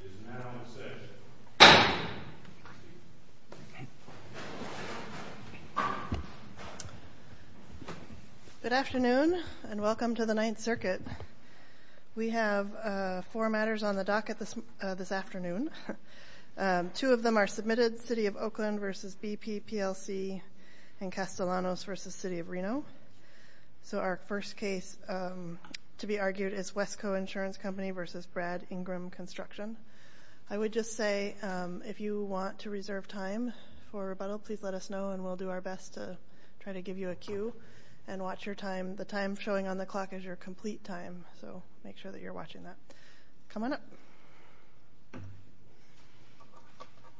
Good afternoon and welcome to the Ninth Circuit. We have four matters on the docket this afternoon. Two of them are submitted, City of Oakland v. BP, PLC, and Castellanos v. City of Reno. So our first case to be argued is Wesco Insurance Company v. Brad Ingram Construction. I would just say if you want to reserve time for rebuttal, please let us know and we'll do our best to try to give you a cue and watch your time. The time showing on the clock is your complete time, so make sure that you're watching that. Come on up.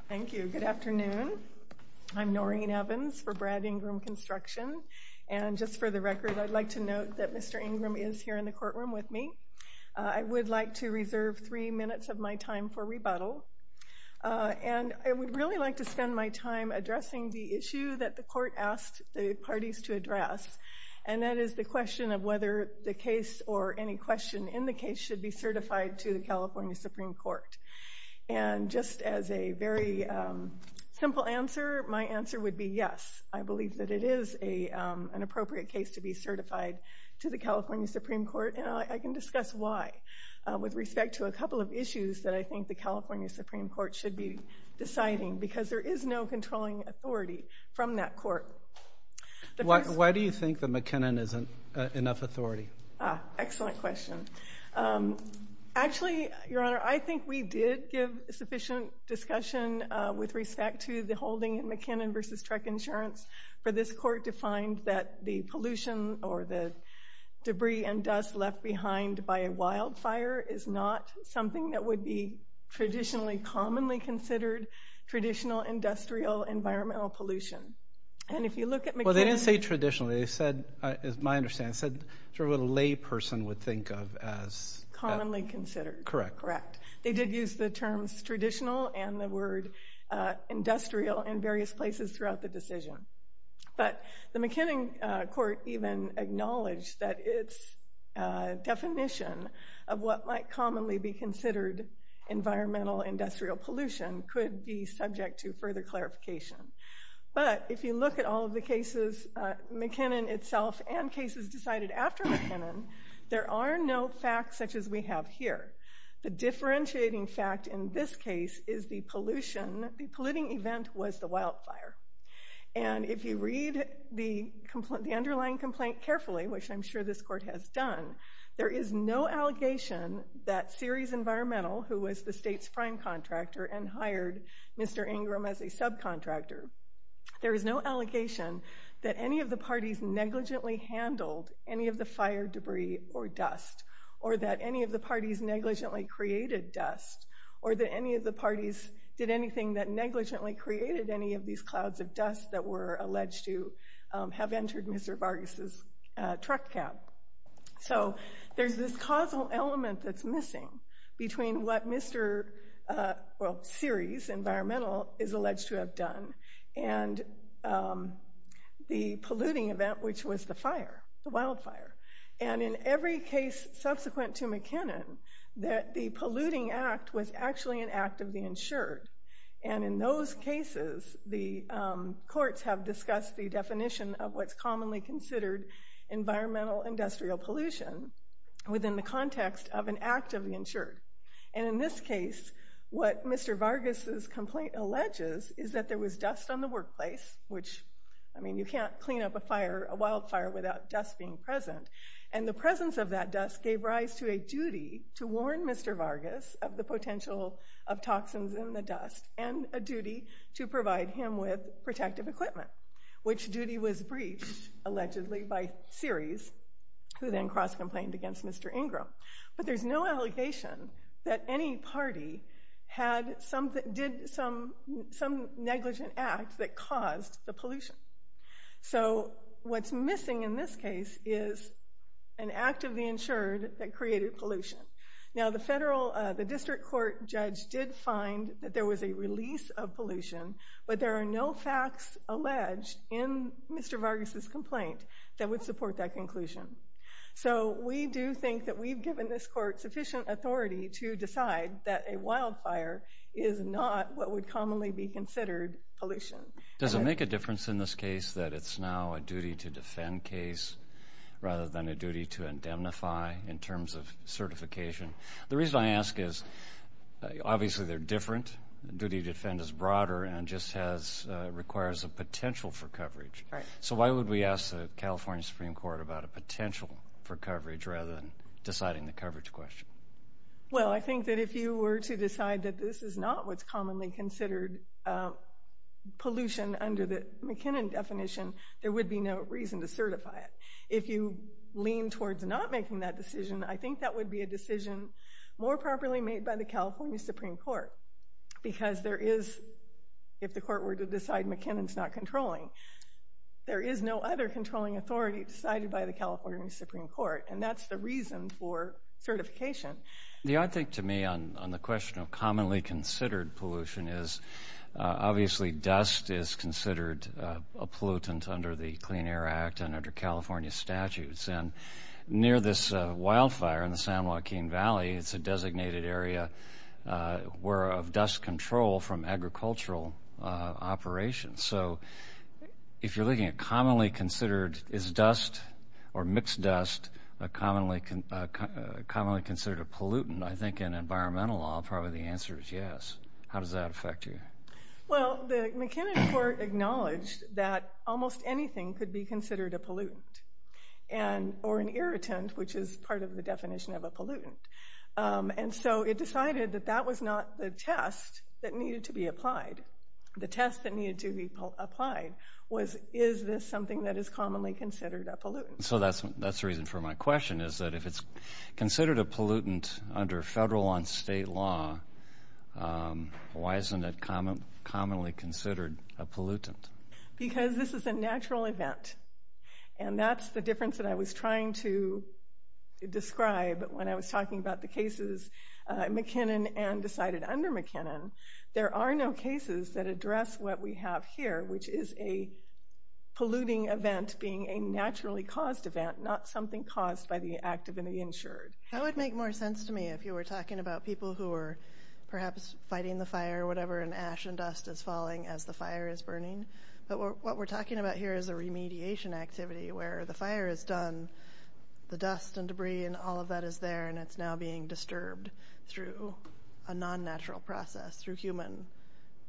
Thank you. Good afternoon. I'm Noreen Evans for Brad Ingram Construction. And just for the record, I'd like to note that Mr. Ingram is here in the courtroom with me. I would like to reserve three minutes of my time for rebuttal. And I would really like to spend my time addressing the issue that the court asked the parties to address. And that is the question of whether the case or any question in the case should be certified to the California Supreme Court. And just as a very simple answer, my answer would be yes. I believe that it is an appropriate case to be certified to the California Supreme Court, and I can discuss why. With respect to a couple of issues that I think the California Supreme Court should be deciding, because there is no controlling authority from that court. Why do you think that McKinnon isn't enough authority? Ah, excellent question. Actually, Your Honor, I think we did give sufficient discussion with respect to the holding in McKinnon v. Trek Insurance for this court to find that the pollution or the debris and dust left behind by a wildfire is not something that would be traditionally commonly considered traditional industrial environmental pollution. And if you look at McKinnon... Well, they didn't say traditionally. They said, as my understanding, they said what a lay person would think of as... Commonly considered. Correct. Correct. They did use the terms traditional and the word industrial in various places throughout the decision. But the McKinnon court even acknowledged that its definition of what might commonly be considered environmental industrial pollution could be subject to further clarification. But if you look at all of the cases, McKinnon itself and cases decided after McKinnon, there are no facts such as we have here. The differentiating fact in this case is the polluting event was the wildfire. And if you read the underlying complaint carefully, which I'm sure this court has done, there is no allegation that Ceres Environmental, who was the state's prime contractor and hired Mr. Ingram as a subcontractor, there is no allegation that any of the parties negligently handled any of the fire debris or dust, or that any of the parties negligently created dust, or that any of the parties did anything that negligently created any of these clouds of dust that were alleged to have entered Mr. Vargas' truck cab. So there's this causal element that's missing between what Mr. Ceres Environmental is alleged to have done and the polluting event, which was the fire, the wildfire. And in every case subsequent to McKinnon, that the polluting act was actually an act of the insured. And in those cases, the courts have discussed the definition of what's commonly considered environmental industrial pollution within the context of an act of the insured. And in this case, what Mr. Vargas' complaint alleges is that there was dust on the workplace, which, I mean, you can't clean up a wildfire without dust being present. And the presence of that dust gave rise to a duty to warn Mr. Vargas of the potential of toxins in the dust, and a duty to provide him with protective equipment, which duty was breached, allegedly, by Ceres, who then cross-complained against Mr. Ingram. But there's no allegation that any party did some negligent act that caused the pollution. So what's missing in this case is an act of the insured that created pollution. Now, the district court judge did find that there was a release of pollution, but there are no facts alleged in Mr. Vargas' complaint that would support that conclusion. So we do think that we've given this court sufficient authority to decide that a wildfire is not what would commonly be considered pollution. Does it make a difference in this case that it's now a duty to defend case rather than a duty to indemnify in terms of certification? The reason I ask is obviously they're different. Duty to defend is broader and just requires a potential for coverage. So why would we ask the California Supreme Court about a potential for coverage rather than deciding the coverage question? Well, I think that if you were to decide that this is not what's commonly considered pollution under the McKinnon definition, there would be no reason to certify it. If you lean towards not making that decision, I think that would be a decision more properly made by the California Supreme Court, because there is, if the court were to decide McKinnon's not controlling, there is no other controlling authority decided by the California Supreme Court, and that's the reason for certification. The odd thing to me on the question of commonly considered pollution is obviously dust is considered a pollutant under the Clean Air Act and under California statutes, and near this wildfire in the San Joaquin Valley, it's a designated area where of dust control from agricultural operations. So if you're looking at commonly considered is dust or mixed dust commonly considered a pollutant, I think in environmental law probably the answer is yes. How does that affect you? Well, the McKinnon court acknowledged that almost anything could be considered a pollutant or an irritant, which is part of the definition of a pollutant. And so it decided that that was not the test that needed to be applied. The test that needed to be applied was, is this something that is commonly considered a pollutant? So that's the reason for my question, is that if it's considered a pollutant under federal and state law, why isn't it commonly considered a pollutant? Because this is a natural event, and that's the difference that I was trying to describe when I was talking about the cases McKinnon and decided under McKinnon. There are no cases that address what we have here, which is a polluting event being a naturally caused event, not something caused by the active and the insured. That would make more sense to me if you were talking about people who are perhaps fighting the fire or whatever, and ash and dust is falling as the fire is burning. But what we're talking about here is a remediation activity where the fire is done, the dust and debris and all of that is there, and it's now being disturbed through a non-natural process, through human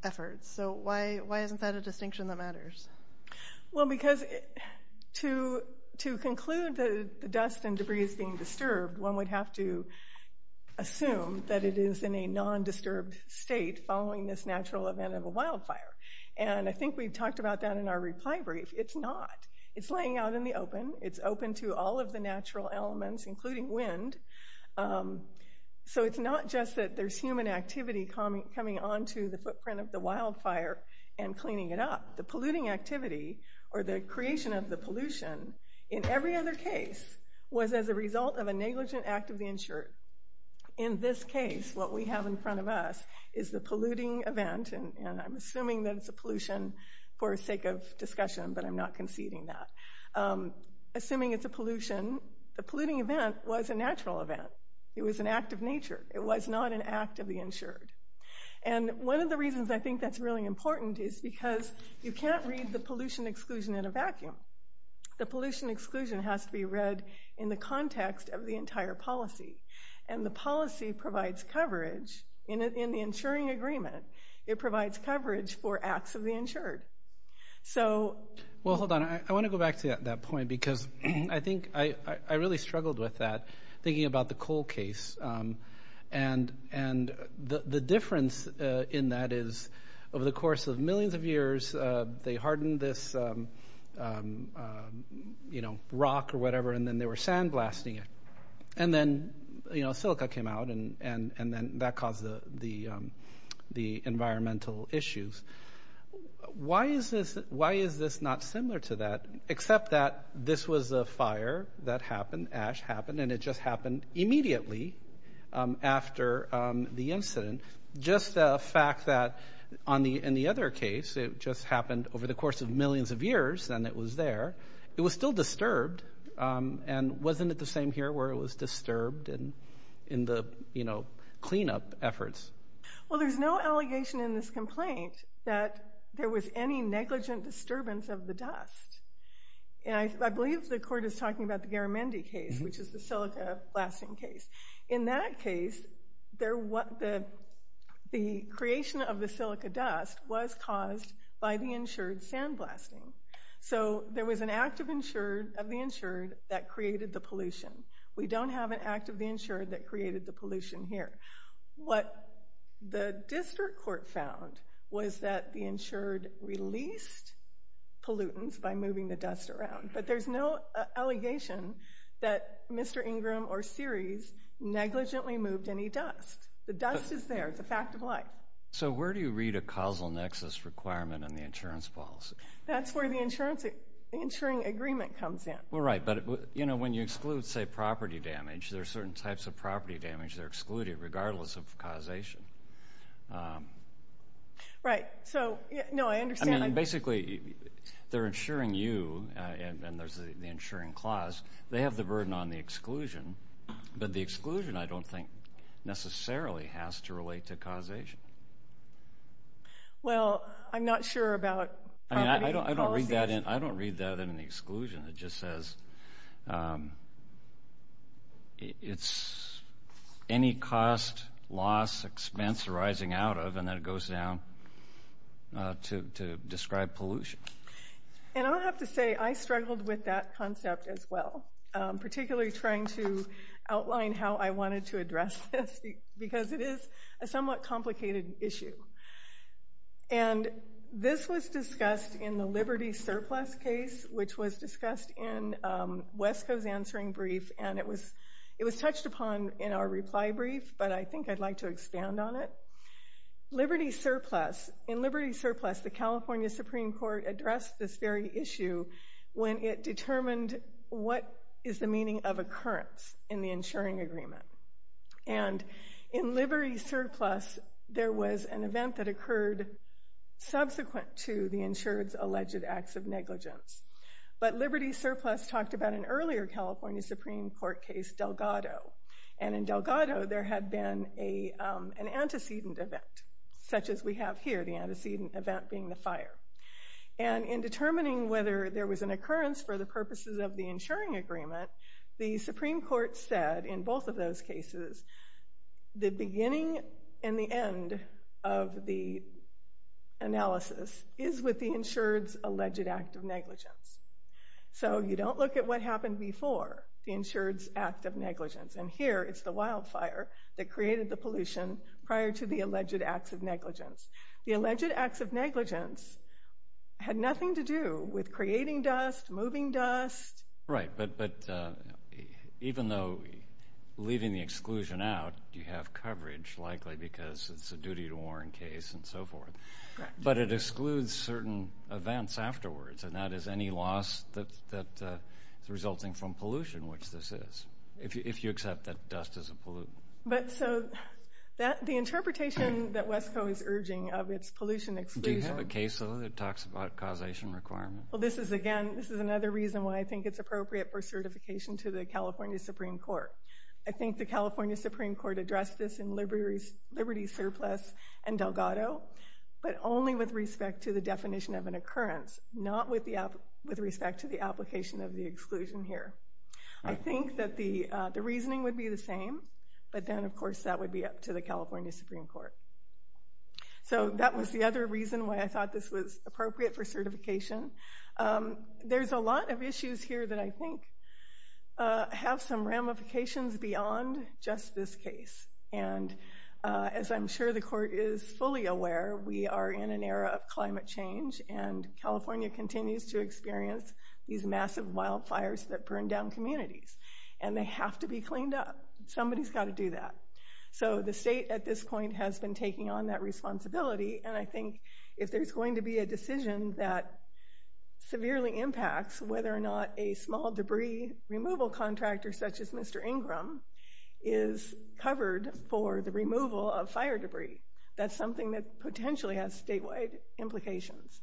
efforts. So why isn't that a distinction that matters? Well, because to conclude that the dust and debris is being disturbed, one would have to assume that it is in a non-disturbed state following this natural event of a wildfire. And I think we've talked about that in our reply brief. It's not. It's laying out in the open. It's open to all of the natural elements, including wind. So it's not just that there's human activity coming onto the footprint of the wildfire and cleaning it up. The polluting activity or the creation of the pollution in every other case was as a result of a negligent act of the insured. In this case, what we have in front of us is the polluting event, and I'm assuming that it's a pollution for the sake of discussion, but I'm not conceding that. Assuming it's a pollution, the polluting event was a natural event. It was an act of nature. It was not an act of the insured. And one of the reasons I think that's really important is because you can't read the pollution exclusion in a vacuum. The pollution exclusion has to be read in the context of the entire policy, and the policy provides coverage in the insuring agreement. It provides coverage for acts of the insured. So... Well, hold on. I want to go back to that point because I think I really struggled with that, thinking about the coal case. And the difference in that is over the course of millions of years, they hardened this, you know, rock or whatever, and then they were sandblasting it. And then, you know, silica came out, and then that caused the environmental issues. Why is this not similar to that, except that this was a fire that happened, ash happened, and it just happened immediately after the incident? Just the fact that in the other case, it just happened over the course of millions of years, and it was there. It was still disturbed, and wasn't it the same here where it was disturbed in the, you know, cleanup efforts? Well, there's no allegation in this complaint that there was any negligent disturbance of the dust. And I believe the court is talking about the Garamendi case, which is the silica blasting case. In that case, the creation of the silica dust was caused by the insured sandblasting. So there was an act of the insured that created the pollution. We don't have an act of the insured that created the pollution here. What the district court found was that the insured released pollutants by moving the dust around. But there's no allegation that Mr. Ingram or Ceres negligently moved any dust. The dust is there. It's a fact of life. So where do you read a causal nexus requirement in the insurance policy? That's where the insuring agreement comes in. Well, right, but, you know, when you exclude, say, property damage, there are certain types of property damage that are excluded regardless of causation. Right. So, no, I understand. I mean, basically, they're insuring you, and there's the insuring clause. They have the burden on the exclusion, but the exclusion, I don't think, necessarily has to relate to causation. Well, I'm not sure about property policies. I don't read that in the exclusion. It just says it's any cost, loss, expense arising out of, and then it goes down to describe pollution. And I'll have to say I struggled with that concept as well, particularly trying to outline how I wanted to address this, because it is a somewhat complicated issue. And this was discussed in the Liberty Surplus case, which was discussed in Wesco's answering brief, and it was touched upon in our reply brief, but I think I'd like to expand on it. Liberty Surplus, in Liberty Surplus, the California Supreme Court addressed this very issue when it determined what is the meaning of occurrence in the insuring agreement. And in Liberty Surplus, there was an event that occurred subsequent to the insured's alleged acts of negligence. But Liberty Surplus talked about an earlier California Supreme Court case, Delgado. And in Delgado, there had been an antecedent event, such as we have here, the antecedent event being the fire. And in determining whether there was an occurrence for the purposes of the insuring agreement, the Supreme Court said in both of those cases the beginning and the end of the analysis is with the insured's alleged act of negligence. So you don't look at what happened before the insured's act of negligence. And here, it's the wildfire that created the pollution prior to the alleged acts of negligence. The alleged acts of negligence had nothing to do with creating dust, moving dust. Right, but even though leaving the exclusion out, you have coverage, likely because it's a duty-to-warrant case and so forth. Correct. But it excludes certain events afterwards, and that is any loss that is resulting from pollution, which this is, if you accept that dust is a pollutant. But so the interpretation that WESCO is urging of its pollution exclusion... Do you have a case, though, that talks about causation requirements? Well, this is, again, this is another reason why I think it's appropriate for certification to the California Supreme Court. I think the California Supreme Court addressed this in Liberty Surplus and Delgado, but only with respect to the definition of an occurrence, not with respect to the application of the exclusion here. I think that the reasoning would be the same, but then, of course, that would be up to the California Supreme Court. So that was the other reason why I thought this was appropriate for certification. There's a lot of issues here that I think have some ramifications beyond just this case. And as I'm sure the court is fully aware, we are in an era of climate change, and California continues to experience these massive wildfires that burn down communities, and they have to be cleaned up. Somebody's got to do that. So the state at this point has been taking on that responsibility. And I think if there's going to be a decision that severely impacts whether or not a small debris removal contractor, such as Mr. Ingram, is covered for the removal of fire debris, that's something that potentially has statewide implications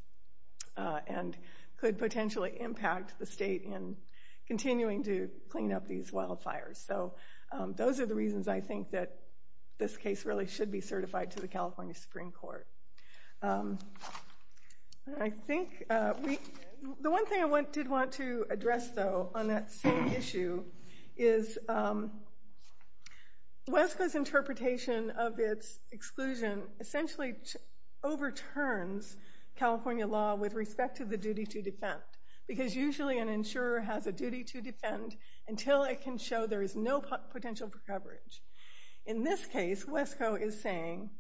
and could potentially impact the state in continuing to clean up these wildfires. So those are the reasons I think that this case really should be certified to the California Supreme Court. I think the one thing I did want to address, though, on that same issue, is WESCA's interpretation of its exclusion essentially overturns California law with respect to the duty to defend, because usually an insurer has a duty to defend until it can show there is no potential for coverage. In this case, WESCO is saying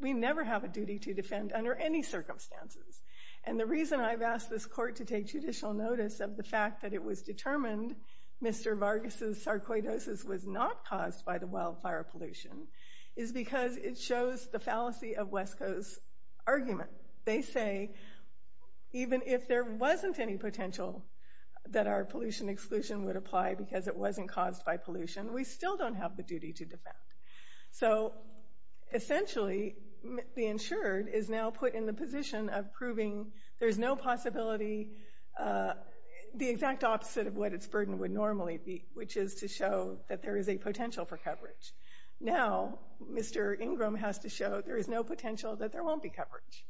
we never have a duty to defend under any circumstances. And the reason I've asked this court to take judicial notice of the fact that it was determined Mr. Vargas' sarcoidosis was not caused by the wildfire pollution is because it shows the fallacy of WESCO's argument. They say even if there wasn't any potential that our pollution exclusion would apply because it wasn't caused by pollution, we still don't have the duty to defend. So essentially, the insured is now put in the position of proving there's no possibility, the exact opposite of what its burden would normally be, which is to show that there is a potential for coverage. Now, Mr. Ingram has to show there is no potential that there won't be coverage.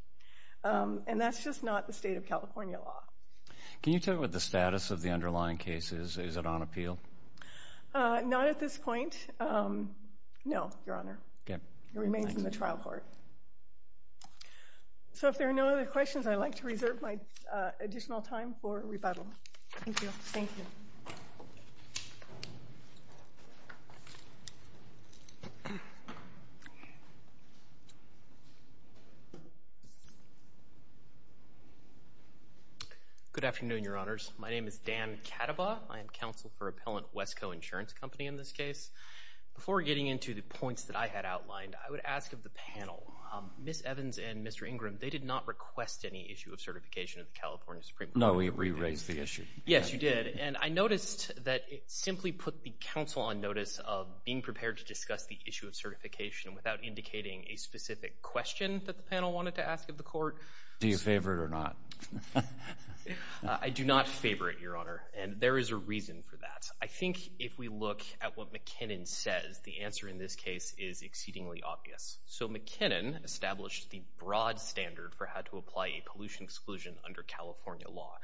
And that's just not the state of California law. Can you tell me what the status of the underlying case is? Is it on appeal? Not at this point, no, Your Honor. It remains in the trial court. So if there are no other questions, I'd like to reserve my additional time for rebuttal. Thank you. Good afternoon, Your Honors. My name is Dan Kadabaugh. I am counsel for appellant WESCO Insurance Company in this case. Before getting into the points that I had outlined, I would ask of the panel, Ms. Evans and Mr. Ingram, they did not request any issue of certification of the California Supreme Court. No, we re-raised the issue. Yes, you did. And I noticed that it simply put the counsel on notice of being prepared to discuss the issue of certification without indicating a specific question that the panel wanted to ask of the court. Do you favor it or not? I do not favor it, Your Honor, and there is a reason for that. I think if we look at what McKinnon says, the answer in this case is exceedingly obvious. So McKinnon established the broad standard for how to apply a pollution exclusion under California law.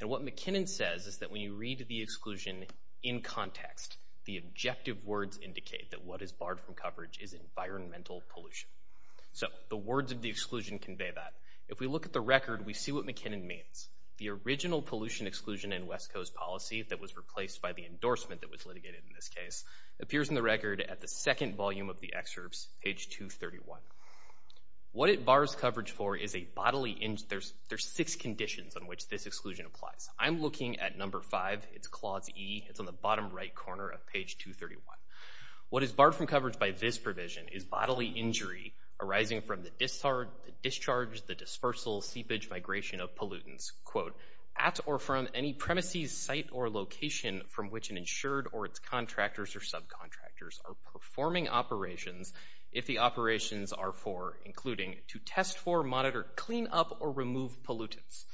And what McKinnon says is that when you read the exclusion in context, the objective words indicate that what is barred from coverage is environmental pollution. So the words of the exclusion convey that. If we look at the record, we see what McKinnon means. The original pollution exclusion in WESCO's policy that was replaced by the endorsement that was litigated in this case appears in the record at the second volume of the excerpts, page 231. What it bars coverage for is a bodily injury. There's six conditions on which this exclusion applies. I'm looking at number five. It's clause E. It's on the bottom right corner of page 231. What is barred from coverage by this provision is bodily injury arising from the discharge, the dispersal, seepage, migration of pollutants, quote, at or from any premises, site, or location from which an insured or its contractors or subcontractors are performing operations if the operations are for, including, to test for, monitor, clean up, or remove pollutants.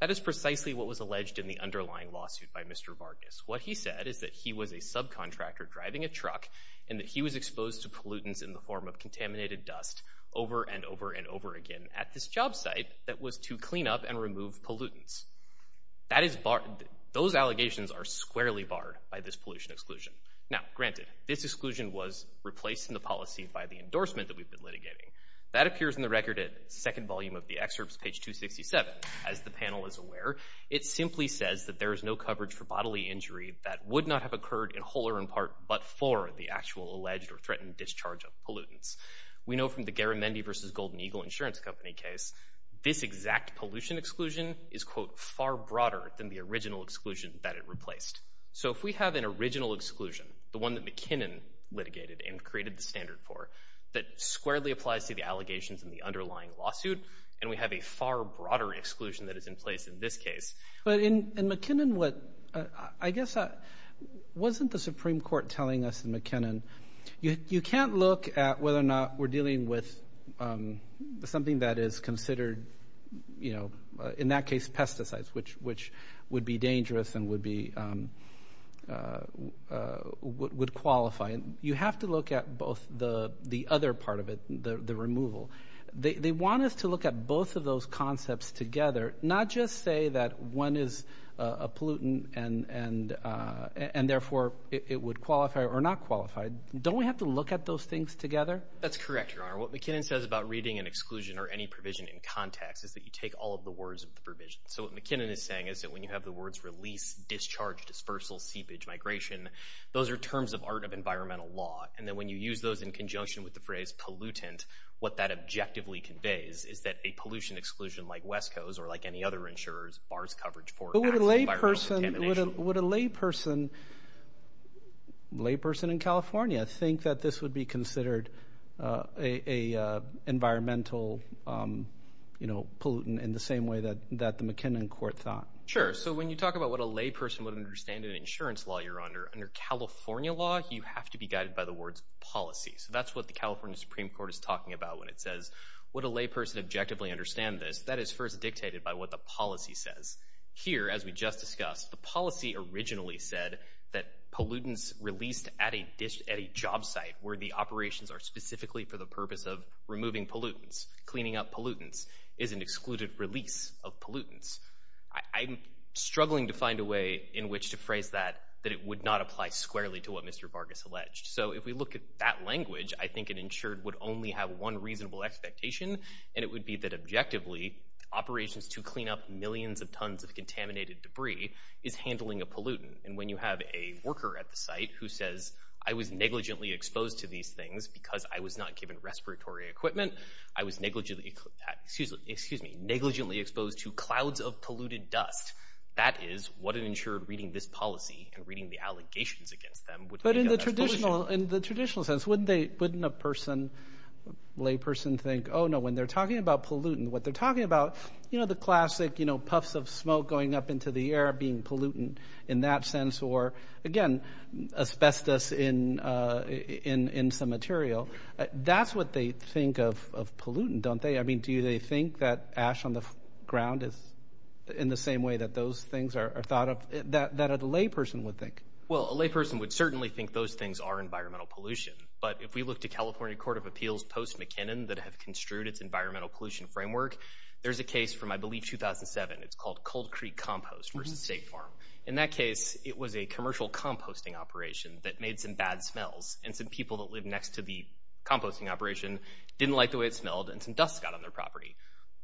That is precisely what was alleged in the underlying lawsuit by Mr. Vargas. What he said is that he was a subcontractor driving a truck and that he was exposed to pollutants in the form of contaminated dust over and over and over again at this job site that was to clean up and remove pollutants. Those allegations are squarely barred by this pollution exclusion. Now, granted, this exclusion was replaced in the policy by the endorsement that we've been litigating. That appears in the record at second volume of the excerpts, page 267. As the panel is aware, it simply says that there is no coverage for bodily injury that would not have occurred in whole or in part but for the actual alleged or threatened discharge of pollutants. We know from the Garamendi v. Golden Eagle Insurance Company case, this exact pollution exclusion is, quote, far broader than the original exclusion that it replaced. So if we have an original exclusion, the one that McKinnon litigated and created the standard for, that squarely applies to the allegations in the underlying lawsuit, and we have a far broader exclusion that is in place in this case. But in McKinnon, I guess, wasn't the Supreme Court telling us in McKinnon, you can't look at whether or not we're dealing with something that is considered, in that case, pesticides, which would be dangerous and would qualify. You have to look at both the other part of it, the removal. They want us to look at both of those concepts together, not just say that one is a pollutant and, therefore, it would qualify or not qualify. Don't we have to look at those things together? That's correct, Your Honor. What McKinnon says about reading an exclusion or any provision in context is that you take all of the words of the provision. So what McKinnon is saying is that when you have the words release, discharge, dispersal, seepage, migration, those are terms of art of environmental law. And then when you use those in conjunction with the phrase pollutant, what that objectively conveys is that a pollution exclusion like WESCO's or like any other insurer's bars coverage for acts of environmental contamination. Would a layperson in California think that this would be considered an environmental pollutant in the same way that the McKinnon court thought? Sure. So when you talk about what a layperson would understand in an insurance law, Your Honor, under California law, you have to be guided by the words policy. So that's what the California Supreme Court is talking about when it says, would a layperson objectively understand this? That is first dictated by what the policy says. Here, as we just discussed, the policy originally said that pollutants released at a job site where the operations are specifically for the purpose of removing pollutants, cleaning up pollutants, is an excluded release of pollutants. I'm struggling to find a way in which to phrase that, that it would not apply squarely to what Mr. Vargas alleged. So if we look at that language, I think an insured would only have one reasonable expectation, and it would be that objectively, operations to clean up millions of tons of contaminated debris is handling a pollutant. And when you have a worker at the site who says, I was negligently exposed to these things because I was not given respiratory equipment, I was negligently exposed to clouds of polluted dust, that is what an insured reading this policy and reading the allegations against them would think of as pollution. But in the traditional sense, wouldn't a person, layperson think, oh, no, when they're talking about pollutant, what they're talking about, you know, the classic puffs of smoke going up into the air being pollutant in that sense, or, again, asbestos in some material, that's what they think of pollutant, don't they? I mean, do they think that ash on the ground is in the same way that those things are thought of, that a layperson would think? Well, a layperson would certainly think those things are environmental pollution. But if we look to California Court of Appeals post-McKinnon that have construed its environmental pollution framework, there's a case from, I believe, 2007. It's called Cold Creek Compost versus State Farm. In that case, it was a commercial composting operation that made some bad smells, and some people that lived next to the composting operation didn't like the way it smelled, and some dust got on their property.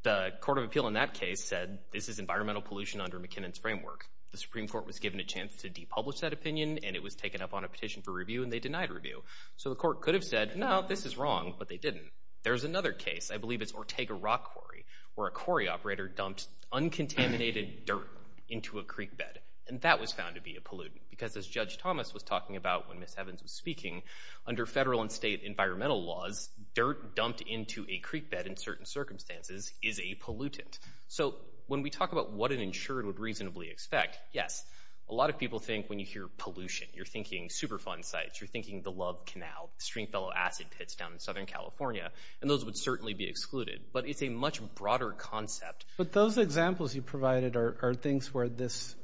The Court of Appeal in that case said this is environmental pollution under McKinnon's framework. The Supreme Court was given a chance to depublish that opinion, and it was taken up on a petition for review, and they denied review. So the court could have said, no, this is wrong, but they didn't. There's another case, I believe it's Ortega Rock Quarry, where a quarry operator dumped uncontaminated dirt into a creek bed, and that was found to be a pollutant, because as Judge Thomas was talking about when Ms. Evans was speaking, under federal and state environmental laws, dirt dumped into a creek bed in certain circumstances is a pollutant. So when we talk about what an insured would reasonably expect, yes, a lot of people think when you hear pollution, you're thinking Superfund sites, you're thinking the Love Canal, Stringfellow Acid Pits down in Southern California, and those would certainly be excluded. But it's a much broader concept. But those examples you provided are things where this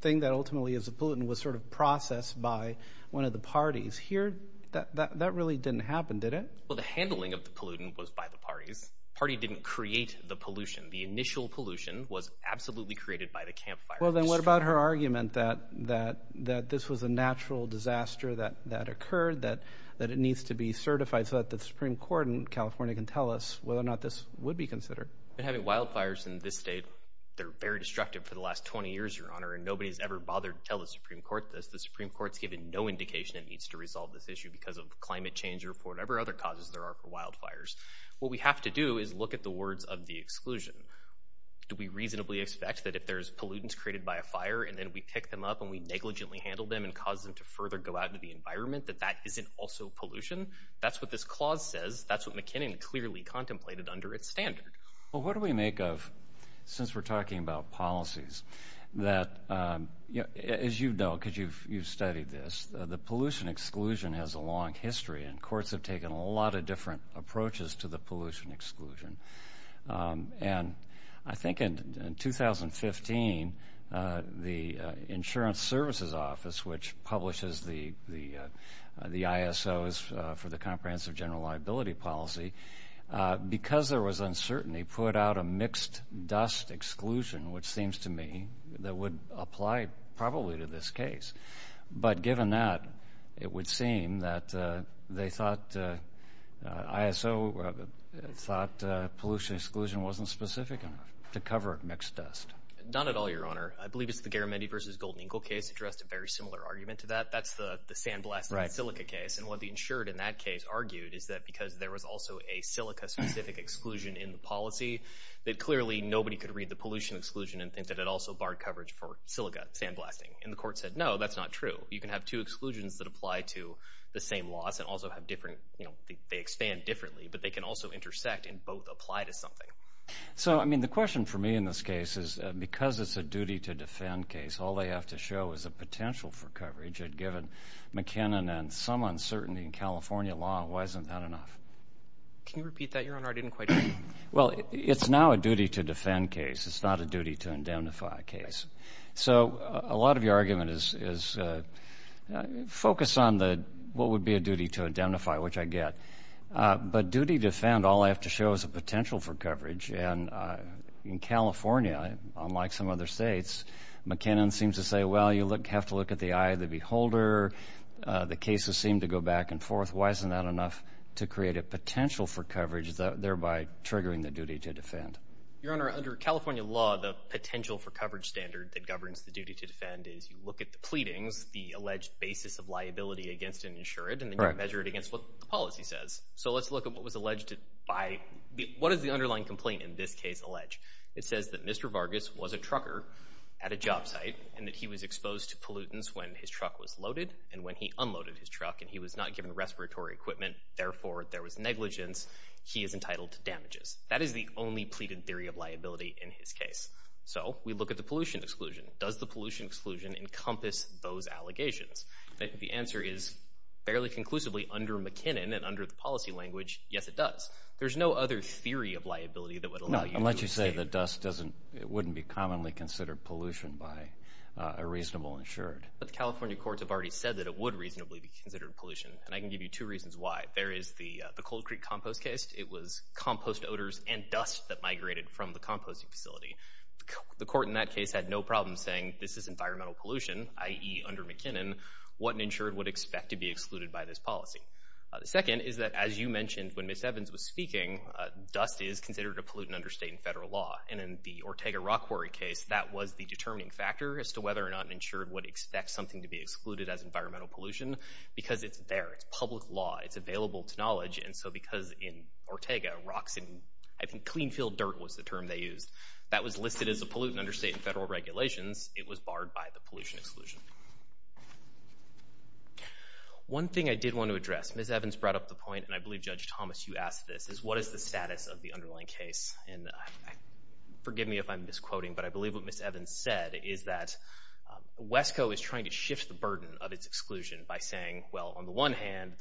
thing that ultimately is a pollutant was sort of processed by one of the parties. Here, that really didn't happen, did it? Well, the handling of the pollutant was by the parties. The party didn't create the pollution. The initial pollution was absolutely created by the campfire. Well, then what about her argument that this was a natural disaster that occurred, that it needs to be certified so that the Supreme Court in California can tell us whether or not this would be considered? Having wildfires in this state, they're very destructive for the last 20 years, Your Honor, and nobody's ever bothered to tell the Supreme Court this. The Supreme Court's given no indication it needs to resolve this issue because of climate change or for whatever other causes there are for wildfires. What we have to do is look at the words of the exclusion. Do we reasonably expect that if there's pollutants created by a fire and then we pick them up and we negligently handle them and cause them to further go out into the environment that that isn't also pollution? That's what this clause says. That's what McKinnon clearly contemplated under its standard. Well, what do we make of, since we're talking about policies, that, as you know, because you've studied this, the pollution exclusion has a long history, and courts have taken a lot of different approaches to the pollution exclusion. And I think in 2015, the Insurance Services Office, which publishes the ISOs for the Comprehensive General Liability Policy, because there was uncertainty, put out a mixed-dust exclusion, which seems to me that would apply probably to this case. But given that, it would seem that they thought, ISO thought pollution exclusion wasn't specific enough to cover it mixed-dust. Not at all, Your Honor. I believe it's the Garamendi v. Golden Eagle case addressed a very similar argument to that. That's the sandblasting silica case. And what the insured in that case argued is that because there was also a silica-specific exclusion in the policy, that clearly nobody could read the pollution exclusion and think that it also barred coverage for silica sandblasting. And the court said, no, that's not true. You can have two exclusions that apply to the same loss and also have different, you know, they expand differently, but they can also intersect and both apply to something. So, I mean, the question for me in this case is because it's a duty-to-defend case, all they have to show is the potential for coverage. And given McKinnon and some uncertainty in California law, why isn't that enough? Can you repeat that, Your Honor? I didn't quite hear you. Well, it's now a duty-to-defend case. It's not a duty-to-indemnify case. So a lot of your argument is focus on what would be a duty-to-identify, which I get. But duty-to-defend, all I have to show is the potential for coverage. And in California, unlike some other states, McKinnon seems to say, well, you have to look at the eye of the beholder. The cases seem to go back and forth. Why isn't that enough to create a potential for coverage, thereby triggering the duty-to-defend? Your Honor, under California law, the potential for coverage standard that governs the duty-to-defend is you look at the pleadings, the alleged basis of liability against an insured, and then you measure it against what the policy says. So let's look at what was alleged by—what does the underlying complaint in this case allege? It says that Mr. Vargas was a trucker at a job site, and that he was exposed to pollutants when his truck was loaded. And when he unloaded his truck and he was not given respiratory equipment, therefore there was negligence, he is entitled to damages. That is the only pleaded theory of liability in his case. So we look at the pollution exclusion. Does the pollution exclusion encompass those allegations? The answer is, fairly conclusively, under McKinnon and under the policy language, yes, it does. There's no other theory of liability that would allow you to say— No, unless you say the dust doesn't—it wouldn't be commonly considered pollution by a reasonable insured. But the California courts have already said that it would reasonably be considered pollution, and I can give you two reasons why. One, there is the Cold Creek compost case. It was compost odors and dust that migrated from the composting facility. The court in that case had no problem saying this is environmental pollution, i.e. under McKinnon, what an insured would expect to be excluded by this policy. The second is that, as you mentioned when Ms. Evans was speaking, dust is considered a pollutant under state and federal law. And in the Ortega-Rockwary case, that was the determining factor as to whether or not an insured would expect something to be excluded as environmental pollution because it's there. It's public law. It's available to knowledge. And so because in Ortega, rocks and—I think clean field dirt was the term they used. That was listed as a pollutant under state and federal regulations. It was barred by the pollution exclusion. One thing I did want to address—Ms. Evans brought up the point, and I believe, Judge Thomas, you asked this— is what is the status of the underlying case? And forgive me if I'm misquoting, but I believe what Ms. Evans said is that the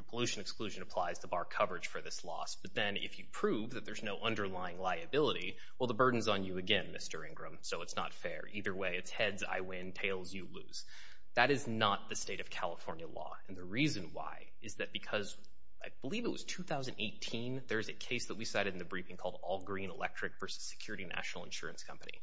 pollution exclusion applies to bar coverage for this loss, but then if you prove that there's no underlying liability, well, the burden's on you again, Mr. Ingram, so it's not fair. Either way, it's heads I win, tails you lose. That is not the state of California law. And the reason why is that because I believe it was 2018, there is a case that we cited in the briefing called All Green Electric versus Security National Insurance Company.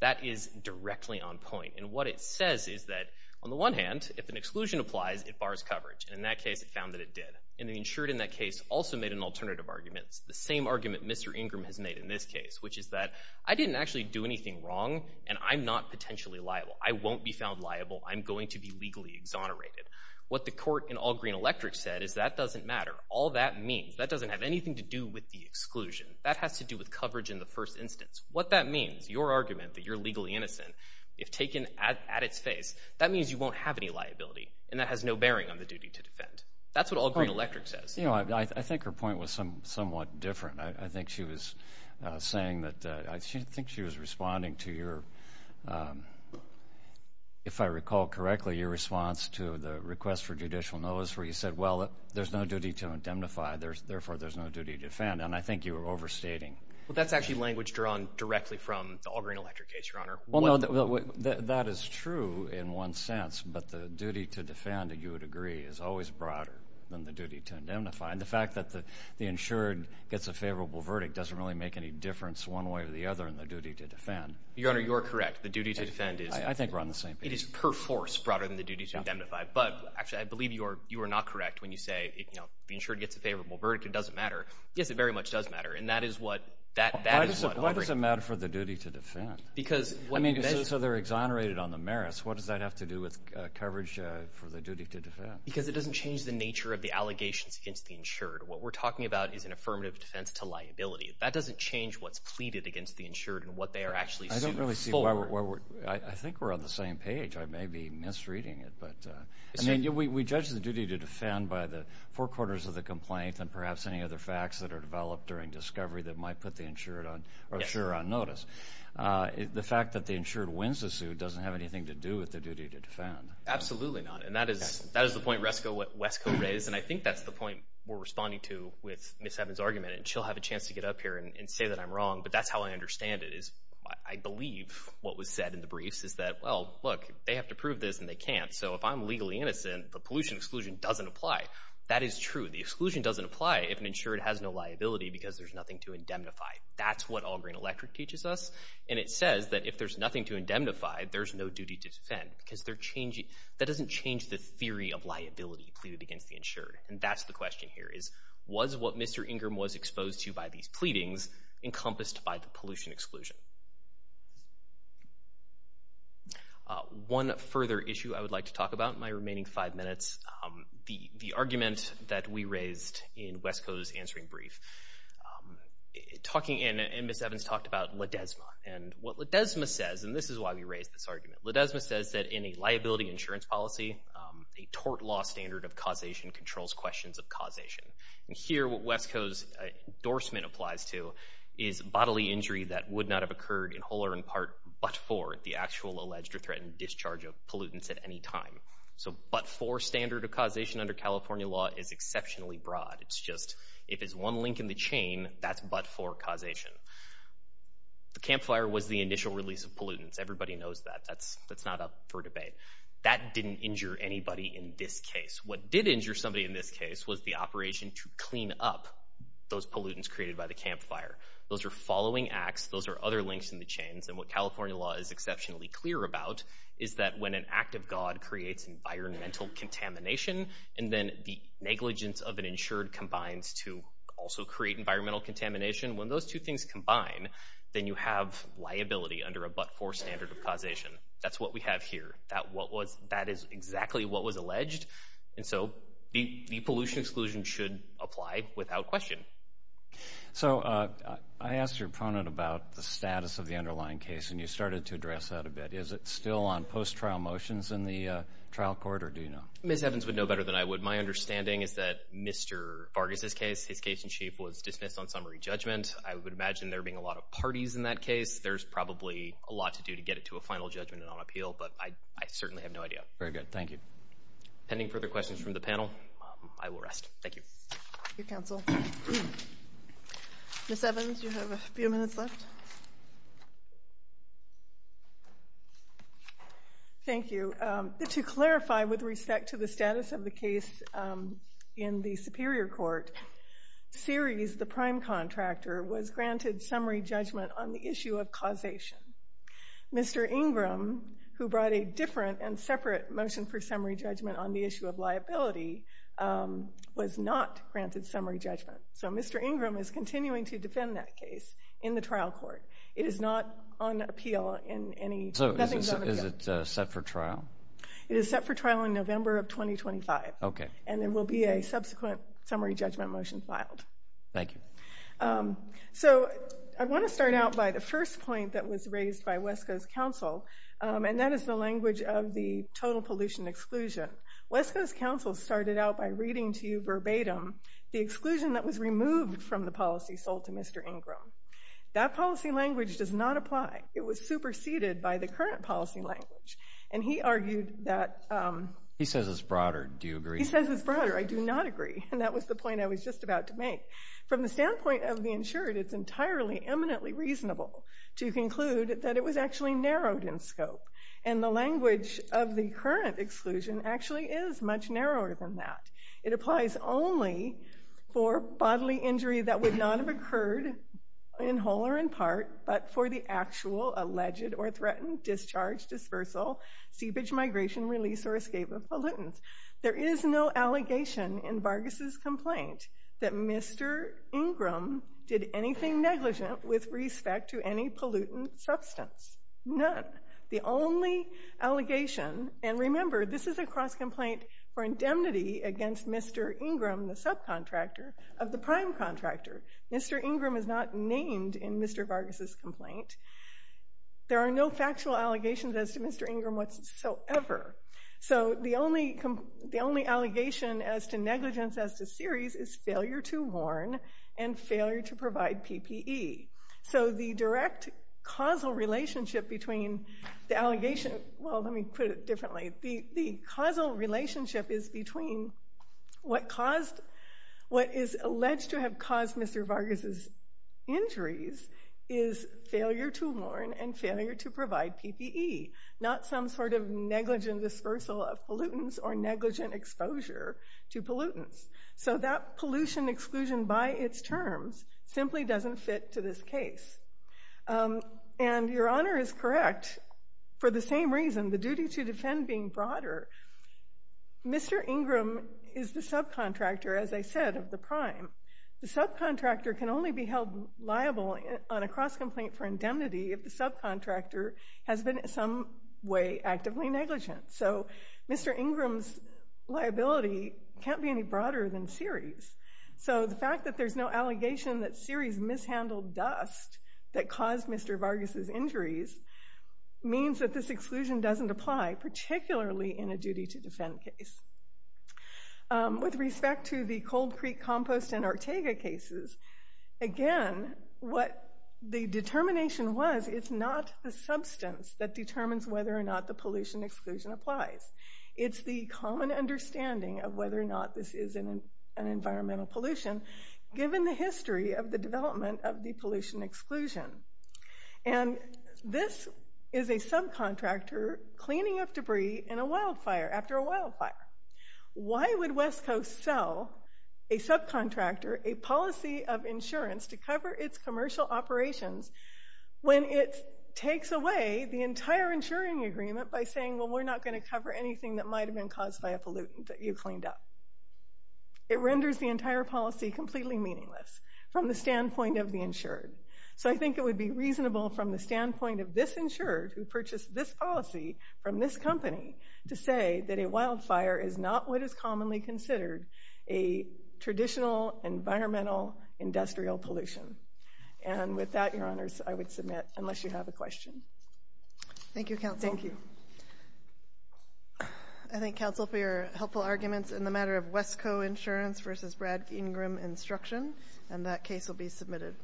That is directly on point. And what it says is that, on the one hand, if an exclusion applies, it bars coverage. And in that case, it found that it did. And the insured in that case also made an alternative argument. It's the same argument Mr. Ingram has made in this case, which is that I didn't actually do anything wrong, and I'm not potentially liable. I won't be found liable. I'm going to be legally exonerated. What the court in All Green Electric said is that doesn't matter. All that means—that doesn't have anything to do with the exclusion. That has to do with coverage in the first instance. What that means, your argument that you're legally innocent, if taken at its face, that means you won't have any liability, and that has no bearing on the duty to defend. That's what All Green Electric says. I think her point was somewhat different. I think she was saying that—I think she was responding to your— if I recall correctly, your response to the request for judicial notice where you said, well, there's no duty to indemnify, therefore there's no duty to defend, and I think you were overstating. That is true in one sense, but the duty to defend, you would agree, is always broader than the duty to indemnify. The fact that the insured gets a favorable verdict doesn't really make any difference one way or the other in the duty to defend. Your Honor, you're correct. The duty to defend is— I think we're on the same page. It is per force broader than the duty to indemnify, but actually I believe you are not correct when you say the insured gets a favorable verdict. It doesn't matter. Yes, it very much does matter, and that is what All Green— Why does it matter for the duty to defend? Because— I mean, so they're exonerated on the merits. What does that have to do with coverage for the duty to defend? Because it doesn't change the nature of the allegations against the insured. What we're talking about is an affirmative defense to liability. That doesn't change what's pleaded against the insured and what they are actually sued for. I don't really see why we're—I think we're on the same page. I may be misreading it, but— I mean, we judge the duty to defend by the four corners of the complaint and perhaps any other facts that are developed during discovery that might put the insured on—or insurer on notice. The fact that the insured wins the suit doesn't have anything to do with the duty to defend. Absolutely not, and that is the point Wesco raised, and I think that's the point we're responding to with Ms. Evans' argument, and she'll have a chance to get up here and say that I'm wrong, but that's how I understand it is I believe what was said in the briefs is that, well, look, they have to prove this and they can't, so if I'm legally innocent, the pollution exclusion doesn't apply. That is true. The exclusion doesn't apply if an insured has no liability because there's nothing to indemnify. That's what All Green Electric teaches us, and it says that if there's nothing to indemnify, there's no duty to defend because they're changing— that doesn't change the theory of liability pleaded against the insured, and that's the question here is, was what Mr. Ingram was exposed to by these pleadings encompassed by the pollution exclusion? One further issue I would like to talk about in my remaining five minutes, the argument that we raised in Wesco's answering brief, and Ms. Evans talked about Ledesma, and what Ledesma says, and this is why we raised this argument, Ledesma says that in a liability insurance policy, a tort law standard of causation controls questions of causation, and here what Wesco's endorsement applies to is bodily injury that would not have occurred in whole or in part but for the actual alleged or threatened discharge of pollutants at any time. So but for standard of causation under California law is exceptionally broad. It's just if it's one link in the chain, that's but for causation. The campfire was the initial release of pollutants. Everybody knows that. That's not up for debate. That didn't injure anybody in this case. What did injure somebody in this case was the operation to clean up those pollutants created by the campfire. Those are following acts. Those are other links in the chains, and what California law is exceptionally clear about is that when an act of God creates environmental contamination and then the negligence of an insured combines to also create environmental contamination, when those two things combine, then you have liability under a but-for standard of causation. That's what we have here. That is exactly what was alleged, and so the pollution exclusion should apply without question. So I asked your opponent about the status of the underlying case, and you started to address that a bit. Is it still on post-trial motions in the trial court, or do you know? Ms. Evans would know better than I would. My understanding is that Mr. Vargas' case, his case in chief, was dismissed on summary judgment. I would imagine there being a lot of parties in that case. There's probably a lot to do to get it to a final judgment and on appeal, but I certainly have no idea. Very good. Thank you. Pending further questions from the panel, I will rest. Thank you. Thank you, counsel. Ms. Evans, you have a few minutes left. Thank you. To clarify with respect to the status of the case in the Superior Court, Series, the prime contractor, was granted summary judgment on the issue of causation. Mr. Ingram, who brought a different and separate motion for summary judgment on the issue of liability, was not granted summary judgment. So Mr. Ingram is continuing to defend that case in the trial court. It is not on appeal. So is it set for trial? It is set for trial in November of 2025, and there will be a subsequent summary judgment motion filed. Thank you. So I want to start out by the first point that was raised by Wesco's counsel, and that is the language of the total pollution exclusion. Wesco's counsel started out by reading to you verbatim the exclusion that was removed from the policy sold to Mr. Ingram. That policy language does not apply. It was superseded by the current policy language. And he argued that he says it's broader. Do you agree? He says it's broader. I do not agree. And that was the point I was just about to make. From the standpoint of the insured, it's entirely eminently reasonable to conclude that it was actually narrowed in scope. And the language of the current exclusion actually is much narrower than that. It applies only for bodily injury that would not have occurred in whole or in part, but for the actual alleged or threatened discharge, dispersal, seepage, migration, release, or escape of pollutants. There is no allegation in Vargas' complaint that Mr. Ingram did anything negligent with respect to any pollutant substance. None. The only allegation, and remember, this is a cross-complaint for indemnity against Mr. Ingram, the subcontractor of the prime contractor. Mr. Ingram is not named in Mr. Vargas' complaint. There are no factual allegations as to Mr. Ingram whatsoever. So the only allegation as to negligence as to series is failure to warn and failure to provide PPE. So the direct causal relationship between the allegation—well, let me put it differently. The causal relationship is between what is alleged to have caused Mr. Vargas' injuries is failure to warn and failure to provide PPE, not some sort of negligent dispersal of pollutants or negligent exposure to pollutants. So that pollution exclusion by its terms simply doesn't fit to this case. And Your Honor is correct. For the same reason, the duty to defend being broader, Mr. Ingram is the subcontractor, as I said, of the prime. The subcontractor can only be held liable on a cross-complaint for indemnity if the subcontractor has been in some way actively negligent. So Mr. Ingram's liability can't be any broader than series. So the fact that there's no allegation that series mishandled dust that caused Mr. Vargas' injuries means that this exclusion doesn't apply, particularly in a duty to defend case. With respect to the Cold Creek compost and Ortega cases, again, what the determination was, it's not the substance that determines whether or not the pollution exclusion applies. It's the common understanding of whether or not this is an environmental pollution given the history of the development of the pollution exclusion. And this is a subcontractor cleaning up debris in a wildfire after a wildfire. Why would West Coast sell a subcontractor a policy of insurance to cover its commercial operations when it takes away the entire insuring agreement by saying, well, we're not going to cover anything that might have been caused by a pollutant that you cleaned up? It renders the entire policy completely meaningless from the standpoint of the insured. So I think it would be reasonable from the standpoint of this insured who purchased this policy from this company to say that a wildfire is not what is commonly considered a traditional environmental industrial pollution. And with that, Your Honors, I would submit, unless you have a question. Thank you, Counsel. Thank you. I thank Counsel for your helpful arguments in the matter of Wesco Insurance versus Brad Ingram Instruction, and that case will be submitted.